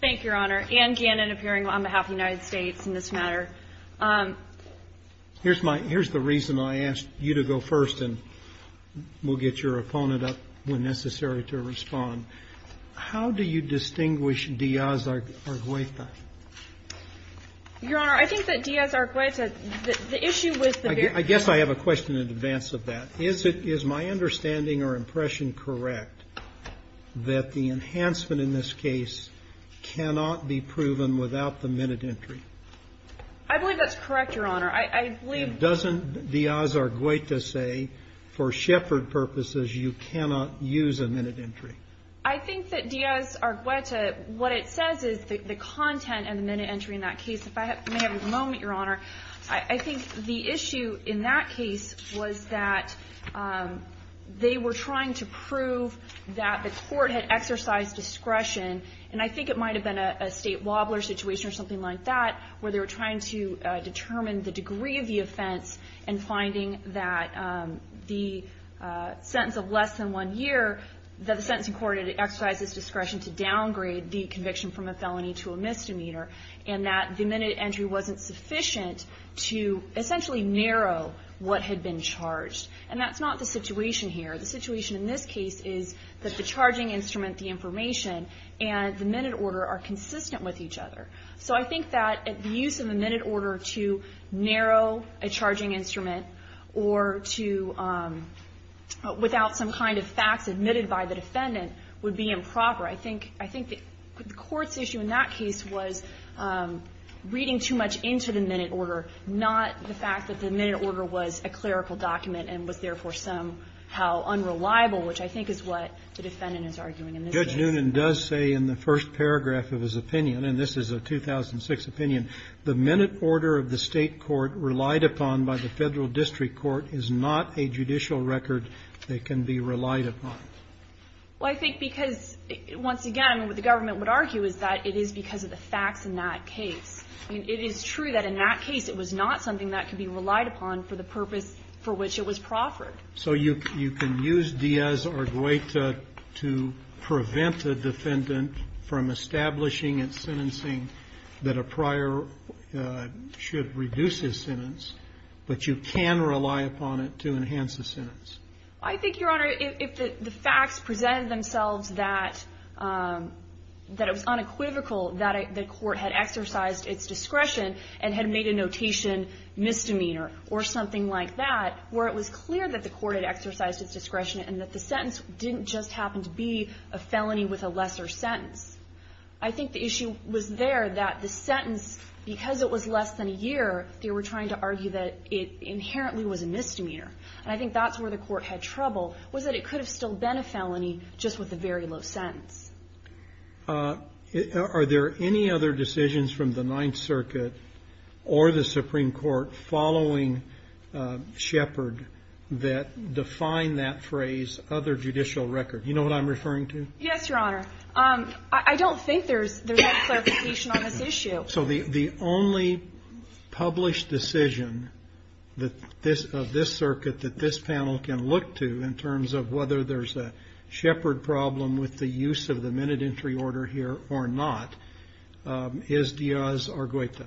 Thank you, Your Honor. Anne Gannon appearing on behalf of the United States in this matter. Here's the reason I asked you to go first, and we'll get your opponent up when necessary to respond. How do you distinguish Díaz-Argüeta? Your Honor, I think that Díaz-Argüeta, the issue with the very – I guess I have a question in advance of that. Is it – is my understanding or impression correct that the enhancement in this case cannot be proven without the minute entry? I believe that's correct, Your Honor. I believe – And doesn't Díaz-Argüeta say, for Shepard purposes, you cannot use a minute entry? I think that Díaz-Argüeta – what it says is the content and the minute entry in that case. If I may have a moment, Your Honor, I think the issue in that case was that they were trying to prove that the court had exercised discretion. And I think it might have been a State wobbler situation or something like that, where they were trying to determine the degree of the offense and finding that the sentence of less than one year, that the sentencing court had exercised its discretion to downgrade the conviction from a felony to a misdemeanor, and that the minute entry wasn't sufficient to essentially narrow what had been charged. And that's not the situation here. The situation in this case is that the charging instrument, the information, and the minute order are consistent with each other. So I think that the use of a minute order to narrow a charging instrument or to – without some kind of facts admitted by the defendant would be improper. I think – I think the court's issue in that case was reading too much into the minute order, not the fact that the minute order was a clerical document and was, therefore, somehow unreliable, which I think is what the defendant is arguing in this case. And this is a 2006 opinion. The minute order of the State court relied upon by the Federal district court is not a judicial record that can be relied upon. Well, I think because, once again, what the government would argue is that it is because of the facts in that case. I mean, it is true that in that case it was not something that could be relied upon for the purpose for which it was proffered. So you can use Diaz or Guaita to prevent a defendant from establishing its sentencing that a prior should reduce his sentence, but you can rely upon it to enhance the sentence. I think, Your Honor, if the facts presented themselves that it was unequivocal that the court had exercised its discretion and had made a notation misdemeanor or something like that, where it was clear that the court had exercised its discretion and that the sentence didn't just happen to be a felony with a lesser sentence, I think the issue was there that the sentence, because it was less than a year, they were trying to argue that it inherently was a misdemeanor. And I think that's where the court had trouble, was that it could have still been a felony just with a very low sentence. Are there any other decisions from the Ninth Circuit or the Supreme Court following Shepard that define that phrase, other judicial record? You know what I'm referring to? Yes, Your Honor. I don't think there's that clarification on this issue. So the only published decision of this circuit that this panel can look to in terms of whether there's a Shepard problem with the use of the minute entry order here or not is Diaz or Guaita.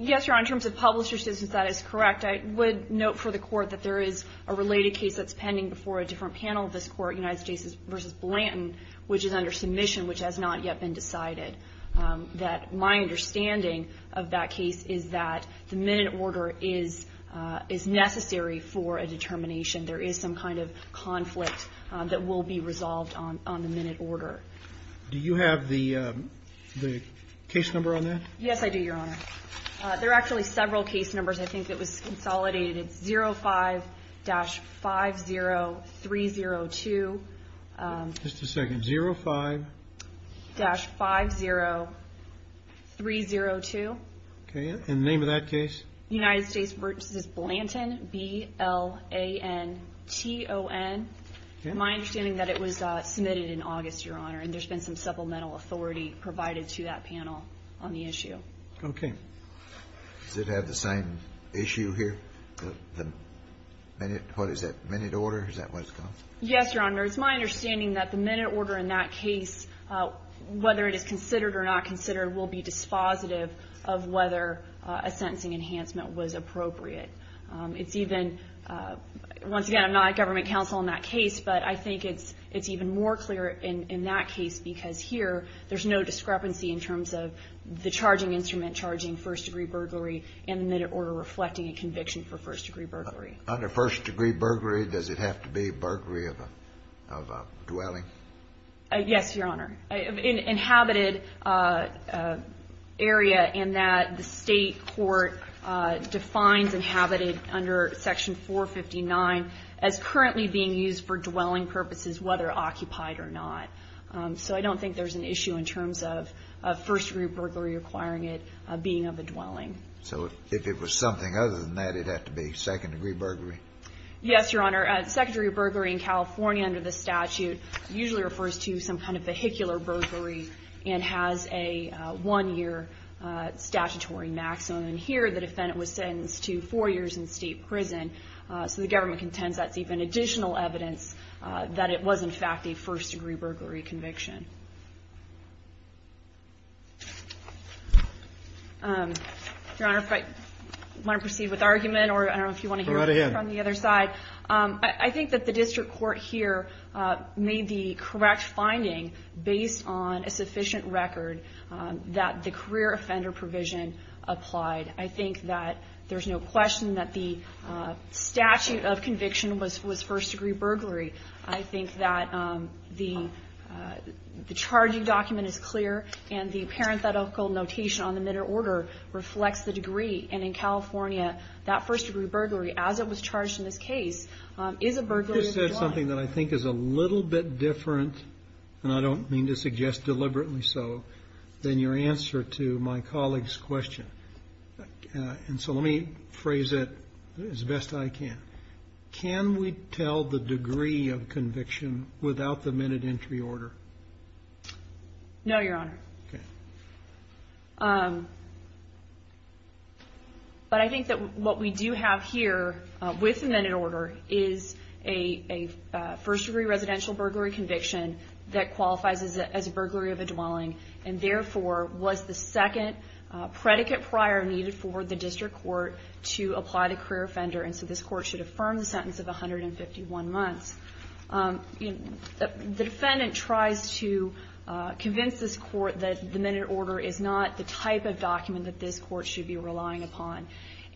Yes, Your Honor. In terms of publisher's decision, that is correct. I would note for the court that there is a related case that's pending before a different panel of this court, United States v. Blanton, which is under submission, which has not yet been decided, that my understanding of that case is that the minute order is necessary for a determination. There is some kind of conflict that will be resolved on the minute order. Do you have the case number on that? Yes, I do, Your Honor. There are actually several case numbers. I think it was consolidated 05-50302. Just a second. 05-50302. Okay. And the name of that case? United States v. Blanton, B-L-A-N-T-O-N. Okay. My understanding that it was submitted in August, Your Honor, and there's been some supplemental authority provided to that panel on the issue. Okay. Does it have the same issue here, the minute? What is that, minute order? Is that what it's called? Yes, Your Honor. It's my understanding that the minute order in that case, whether it is considered or not considered, will be dispositive of whether a sentencing enhancement was appropriate. It's even – once again, I'm not a government counsel in that case, but I think it's even more clear in that case because here there's no discrepancy in terms of the charging instrument charging first-degree burglary and the minute order reflecting a conviction for first-degree burglary. Under first-degree burglary, does it have to be burglary of a dwelling? Yes, Your Honor. An inhabited area in that the State court defines inhabited under Section 459 as currently being used for dwelling purposes, whether occupied or not. So I don't think there's an issue in terms of first-degree burglary requiring it being of a dwelling. So if it was something other than that, it would have to be second-degree burglary? Yes, Your Honor. Second-degree burglary in California under the statute usually refers to some kind of vehicular burglary and has a one-year statutory maximum. Here the defendant was sentenced to four years in state prison, so the government contends that's even additional evidence that it was, in fact, a first-degree burglary conviction. Your Honor, if I want to proceed with argument, or I don't know if you want to hear from the other side. Go right ahead. I think that the district court here made the correct finding based on a sufficient record that the career offender provision applied. I think that there's no question that the statute of conviction was first-degree burglary. I think that the charging document is clear and the parenthetical notation on the minor order reflects the degree. And in California, that first-degree burglary, as it was charged in this case, is a burglary of a dwelling. This says something that I think is a little bit different, and I don't mean to suggest deliberately so, than your answer to my colleague's question. And so let me phrase it as best I can. Can we tell the degree of conviction without the minute entry order? No, Your Honor. Okay. But I think that what we do have here with the minute order is a first-degree residential burglary conviction that qualifies as a burglary of a dwelling, and therefore was the second predicate prior needed for the district court to apply the sentence of 151 months. The defendant tries to convince this Court that the minute order is not the type of document that this Court should be relying upon.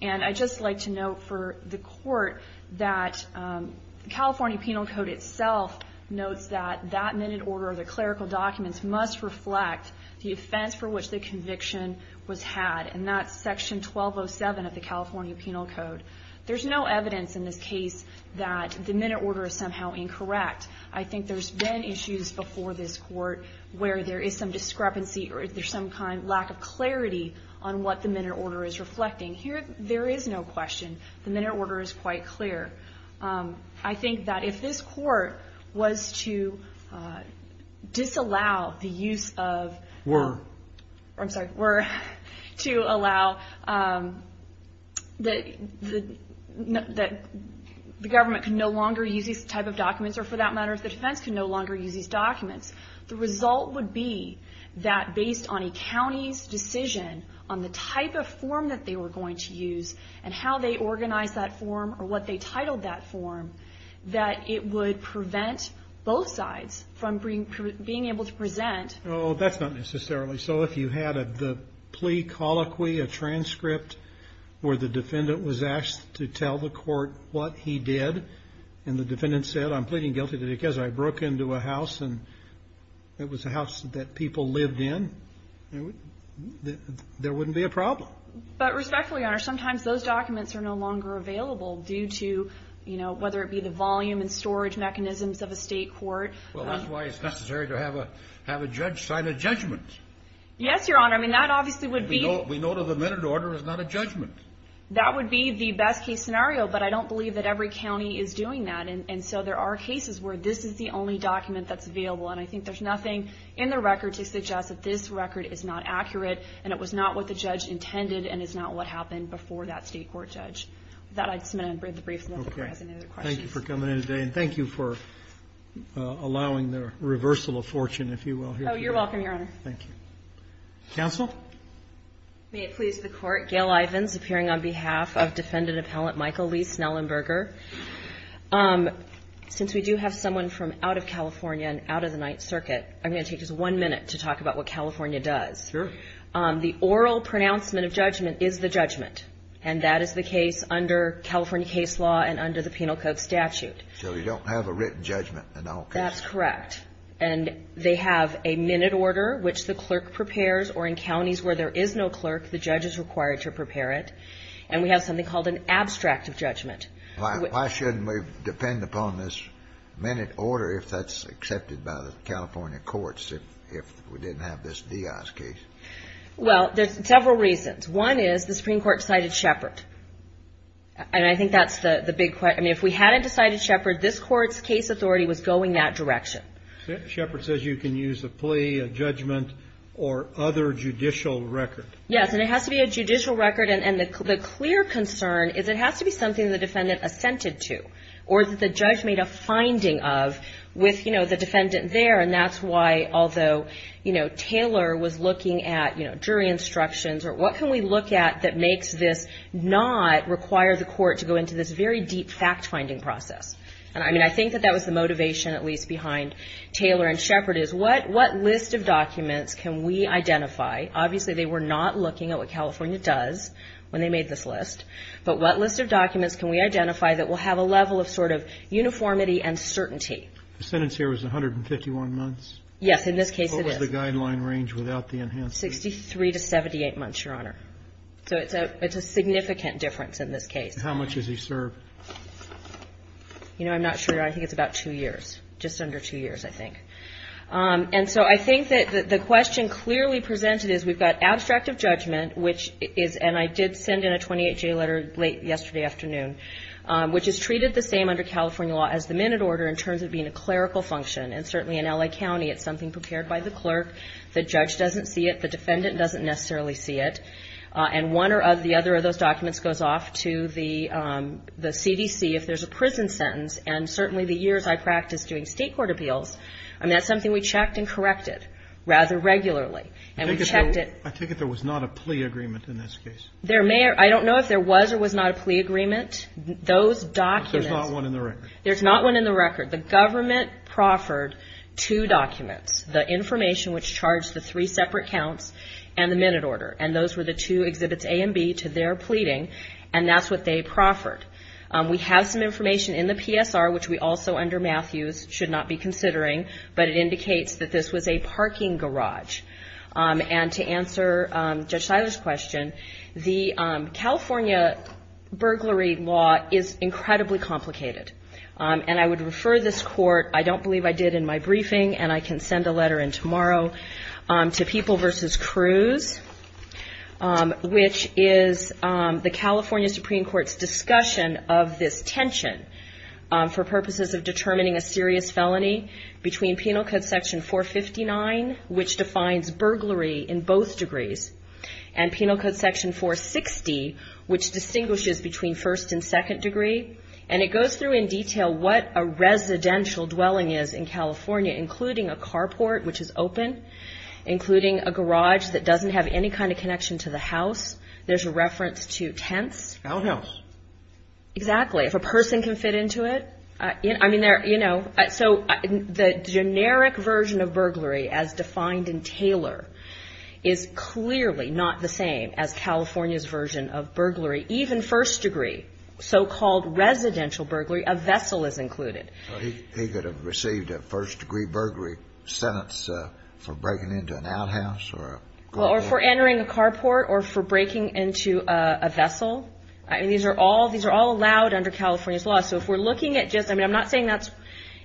And I'd just like to note for the Court that the California Penal Code itself notes that that minute order or the clerical documents must reflect the offense for which the conviction was had. And that's Section 1207 of the California Penal Code. There's no evidence in this case that the minute order is somehow incorrect. I think there's been issues before this Court where there is some discrepancy or there's some kind of lack of clarity on what the minute order is reflecting. Here, there is no question. The minute order is quite clear. I think that if this Court was to disallow the use of --" Were. I'm sorry. Were to allow that the government can no longer use these type of documents, or for that matter, if the defense can no longer use these documents, the result would be that based on a county's decision on the type of form that they were going to use and how they organized that form or what they titled that form, that it would prevent both sides from being able to present. Oh, that's not necessarily so. If you had the plea colloquy, a transcript where the defendant was asked to tell the Court what he did and the defendant said, I'm pleading guilty because I broke into a house and it was a house that people lived in, there wouldn't be a problem. But respectfully, Your Honor, sometimes those documents are no longer available due to, you know, whether it be the volume and storage mechanisms of a state court. Well, that's why it's necessary to have a judge sign a judgment. Yes, Your Honor. I mean, that obviously would be the best case scenario, but I don't believe that every county is doing that. And so there are cases where this is the only document that's available. And I think there's nothing in the record to suggest that this record is not accurate and it was not what the judge intended and is not what happened before that state court judge. With that, I just want to end the brief. Okay. Thank you for coming in today. And thank you for allowing the reversal of fortune, if you will. Oh, you're welcome, Your Honor. Thank you. Counsel? May it please the Court. Gail Ivins, appearing on behalf of Defendant Appellant Michael Lee Snellenberger. Since we do have someone from out of California and out of the Ninth Circuit, I'm going to take just one minute to talk about what California does. Sure. The oral pronouncement of judgment is the judgment, and that is the case under California case law and under the Penal Code statute. So you don't have a written judgment in all cases. That's correct. And they have a minute order, which the clerk prepares, or in counties where there is no clerk, the judge is required to prepare it. And we have something called an abstract of judgment. Why shouldn't we depend upon this minute order if that's accepted by the California courts if we didn't have this Diaz case? Well, there's several reasons. One is the Supreme Court cited Shepard. And I think that's the big question. I mean, if we hadn't decided Shepard, this court's case authority was going that direction. Shepard says you can use a plea, a judgment, or other judicial record. Yes. And it has to be a judicial record. And the clear concern is it has to be something the defendant assented to or that the judge made a finding of with, you know, the defendant there. And that's why, although, you know, Taylor was looking at, you know, jury instructions or what can we look at that makes this not require the court to go into this very deep fact-finding process. And, I mean, I think that that was the motivation at least behind Taylor and Shepard is what list of documents can we identify? Obviously, they were not looking at what California does when they made this list. But what list of documents can we identify that will have a level of sort of uniformity and certainty? The sentence here was 151 months. Yes. In this case, it is. What was the guideline range without the enhanced sentence? Sixty-three to 78 months, Your Honor. So it's a significant difference in this case. How much does he serve? You know, I'm not sure, Your Honor. I think it's about two years, just under two years, I think. And so I think that the question clearly presented is we've got abstract of judgment, which is, and I did send in a 28-J letter late yesterday afternoon, which is treated the same under California law as the minute order in terms of being a clerical function. And certainly in L.A. County, it's something prepared by the clerk. The judge doesn't see it. The defendant doesn't necessarily see it. And one or the other of those documents goes off to the CDC if there's a prison sentence. And certainly the years I practiced doing state court appeals, I mean, that's something we checked and corrected rather regularly. And we checked it. I take it there was not a plea agreement in this case. I don't know if there was or was not a plea agreement. Those documents. There's not one in the record. There's not one in the record. The government proffered two documents, the information which charged the three separate counts and the minute order. And those were the two exhibits A and B to their pleading. And that's what they proffered. We have some information in the PSR, which we also under Matthews should not be considering, but it indicates that this was a parking garage. And to answer Judge Siler's question, the California burglary law is incredibly complicated. And I would refer this Court, I don't believe I did in my briefing, and I can send a letter in tomorrow, to People v. Crews, which is the California Supreme Court's discussion of this tension for purposes of determining a serious felony, between Penal Code Section 459, which defines burglary in both degrees, and Penal Code Section 460, which distinguishes between first and second degree. And it goes through in detail what a residential dwelling is in California, including a carport, which is open, including a garage that doesn't have any kind of connection to the house. There's a reference to tents. I don't know. Exactly. If a person can fit into it. I mean, you know, so the generic version of burglary, as defined in Taylor, is clearly not the same as California's version of burglary. Even first degree, so-called residential burglary, a vessel is included. He could have received a first degree burglary sentence for breaking into an outhouse or a garage. Or for entering a carport or for breaking into a vessel. I mean, these are all, these are all allowed under California's law. So if we're looking at just, I mean, I'm not saying that's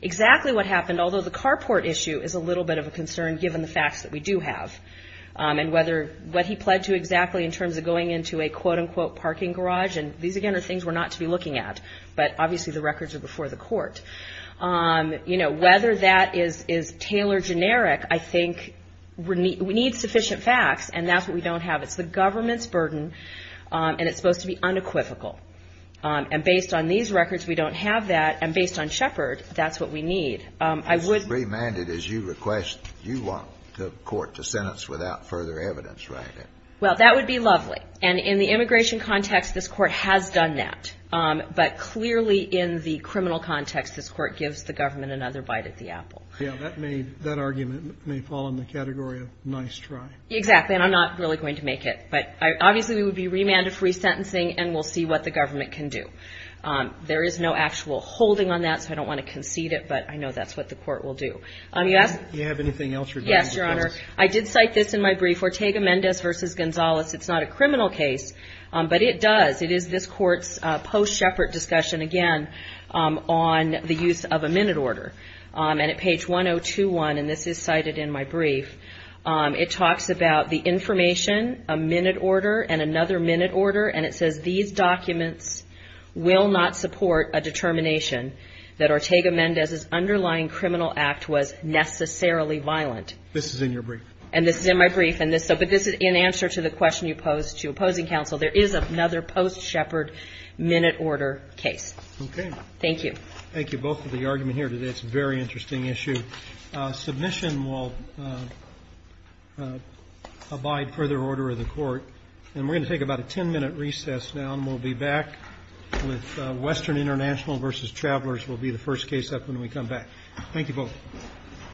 exactly what happened, although the carport issue is a little bit of a concern, given the facts that we do have. And whether, what he pled to exactly in terms of going into a, quote-unquote, parking garage. And these, again, are things we're not to be looking at. But obviously, the records are before the court. You know, whether that is Taylor generic, I think we need sufficient facts. And that's what we don't have. It's the government's burden, and it's supposed to be unequivocal. And based on these records, we don't have that. And based on Shepard, that's what we need. I would. If remanded, as you request, you want the court to sentence without further evidence, right? Well, that would be lovely. And in the immigration context, this court has done that. But clearly in the criminal context, this court gives the government another bite at the apple. Yeah, that may, that argument may fall in the category of nice try. Exactly. And I'm not really going to make it. But obviously, we would be remanded for resentencing, and we'll see what the government can do. There is no actual holding on that, so I don't want to concede it. But I know that's what the court will do. Yes? Do you have anything else regarding the case? Yes, Your Honor. I did cite this in my brief, Ortega-Mendez v. Gonzalez. It's not a criminal case, but it does. It is this court's post-Shepard discussion, again, on the use of a minute order. And at page 1021, and this is cited in my brief, it talks about the information, a minute order, and another minute order, and it says, These documents will not support a determination that Ortega-Mendez's underlying criminal act was necessarily violent. This is in your brief. And this is in my brief. But this is in answer to the question you posed to opposing counsel. There is another post-Shepard minute order case. Okay. Thank you. Thank you both for the argument here today. It's a very interesting issue. Submission will abide further order of the court. And we're going to take about a 10-minute recess now, and we'll be back with Western International v. Travelers will be the first case up when we come back. Thank you both.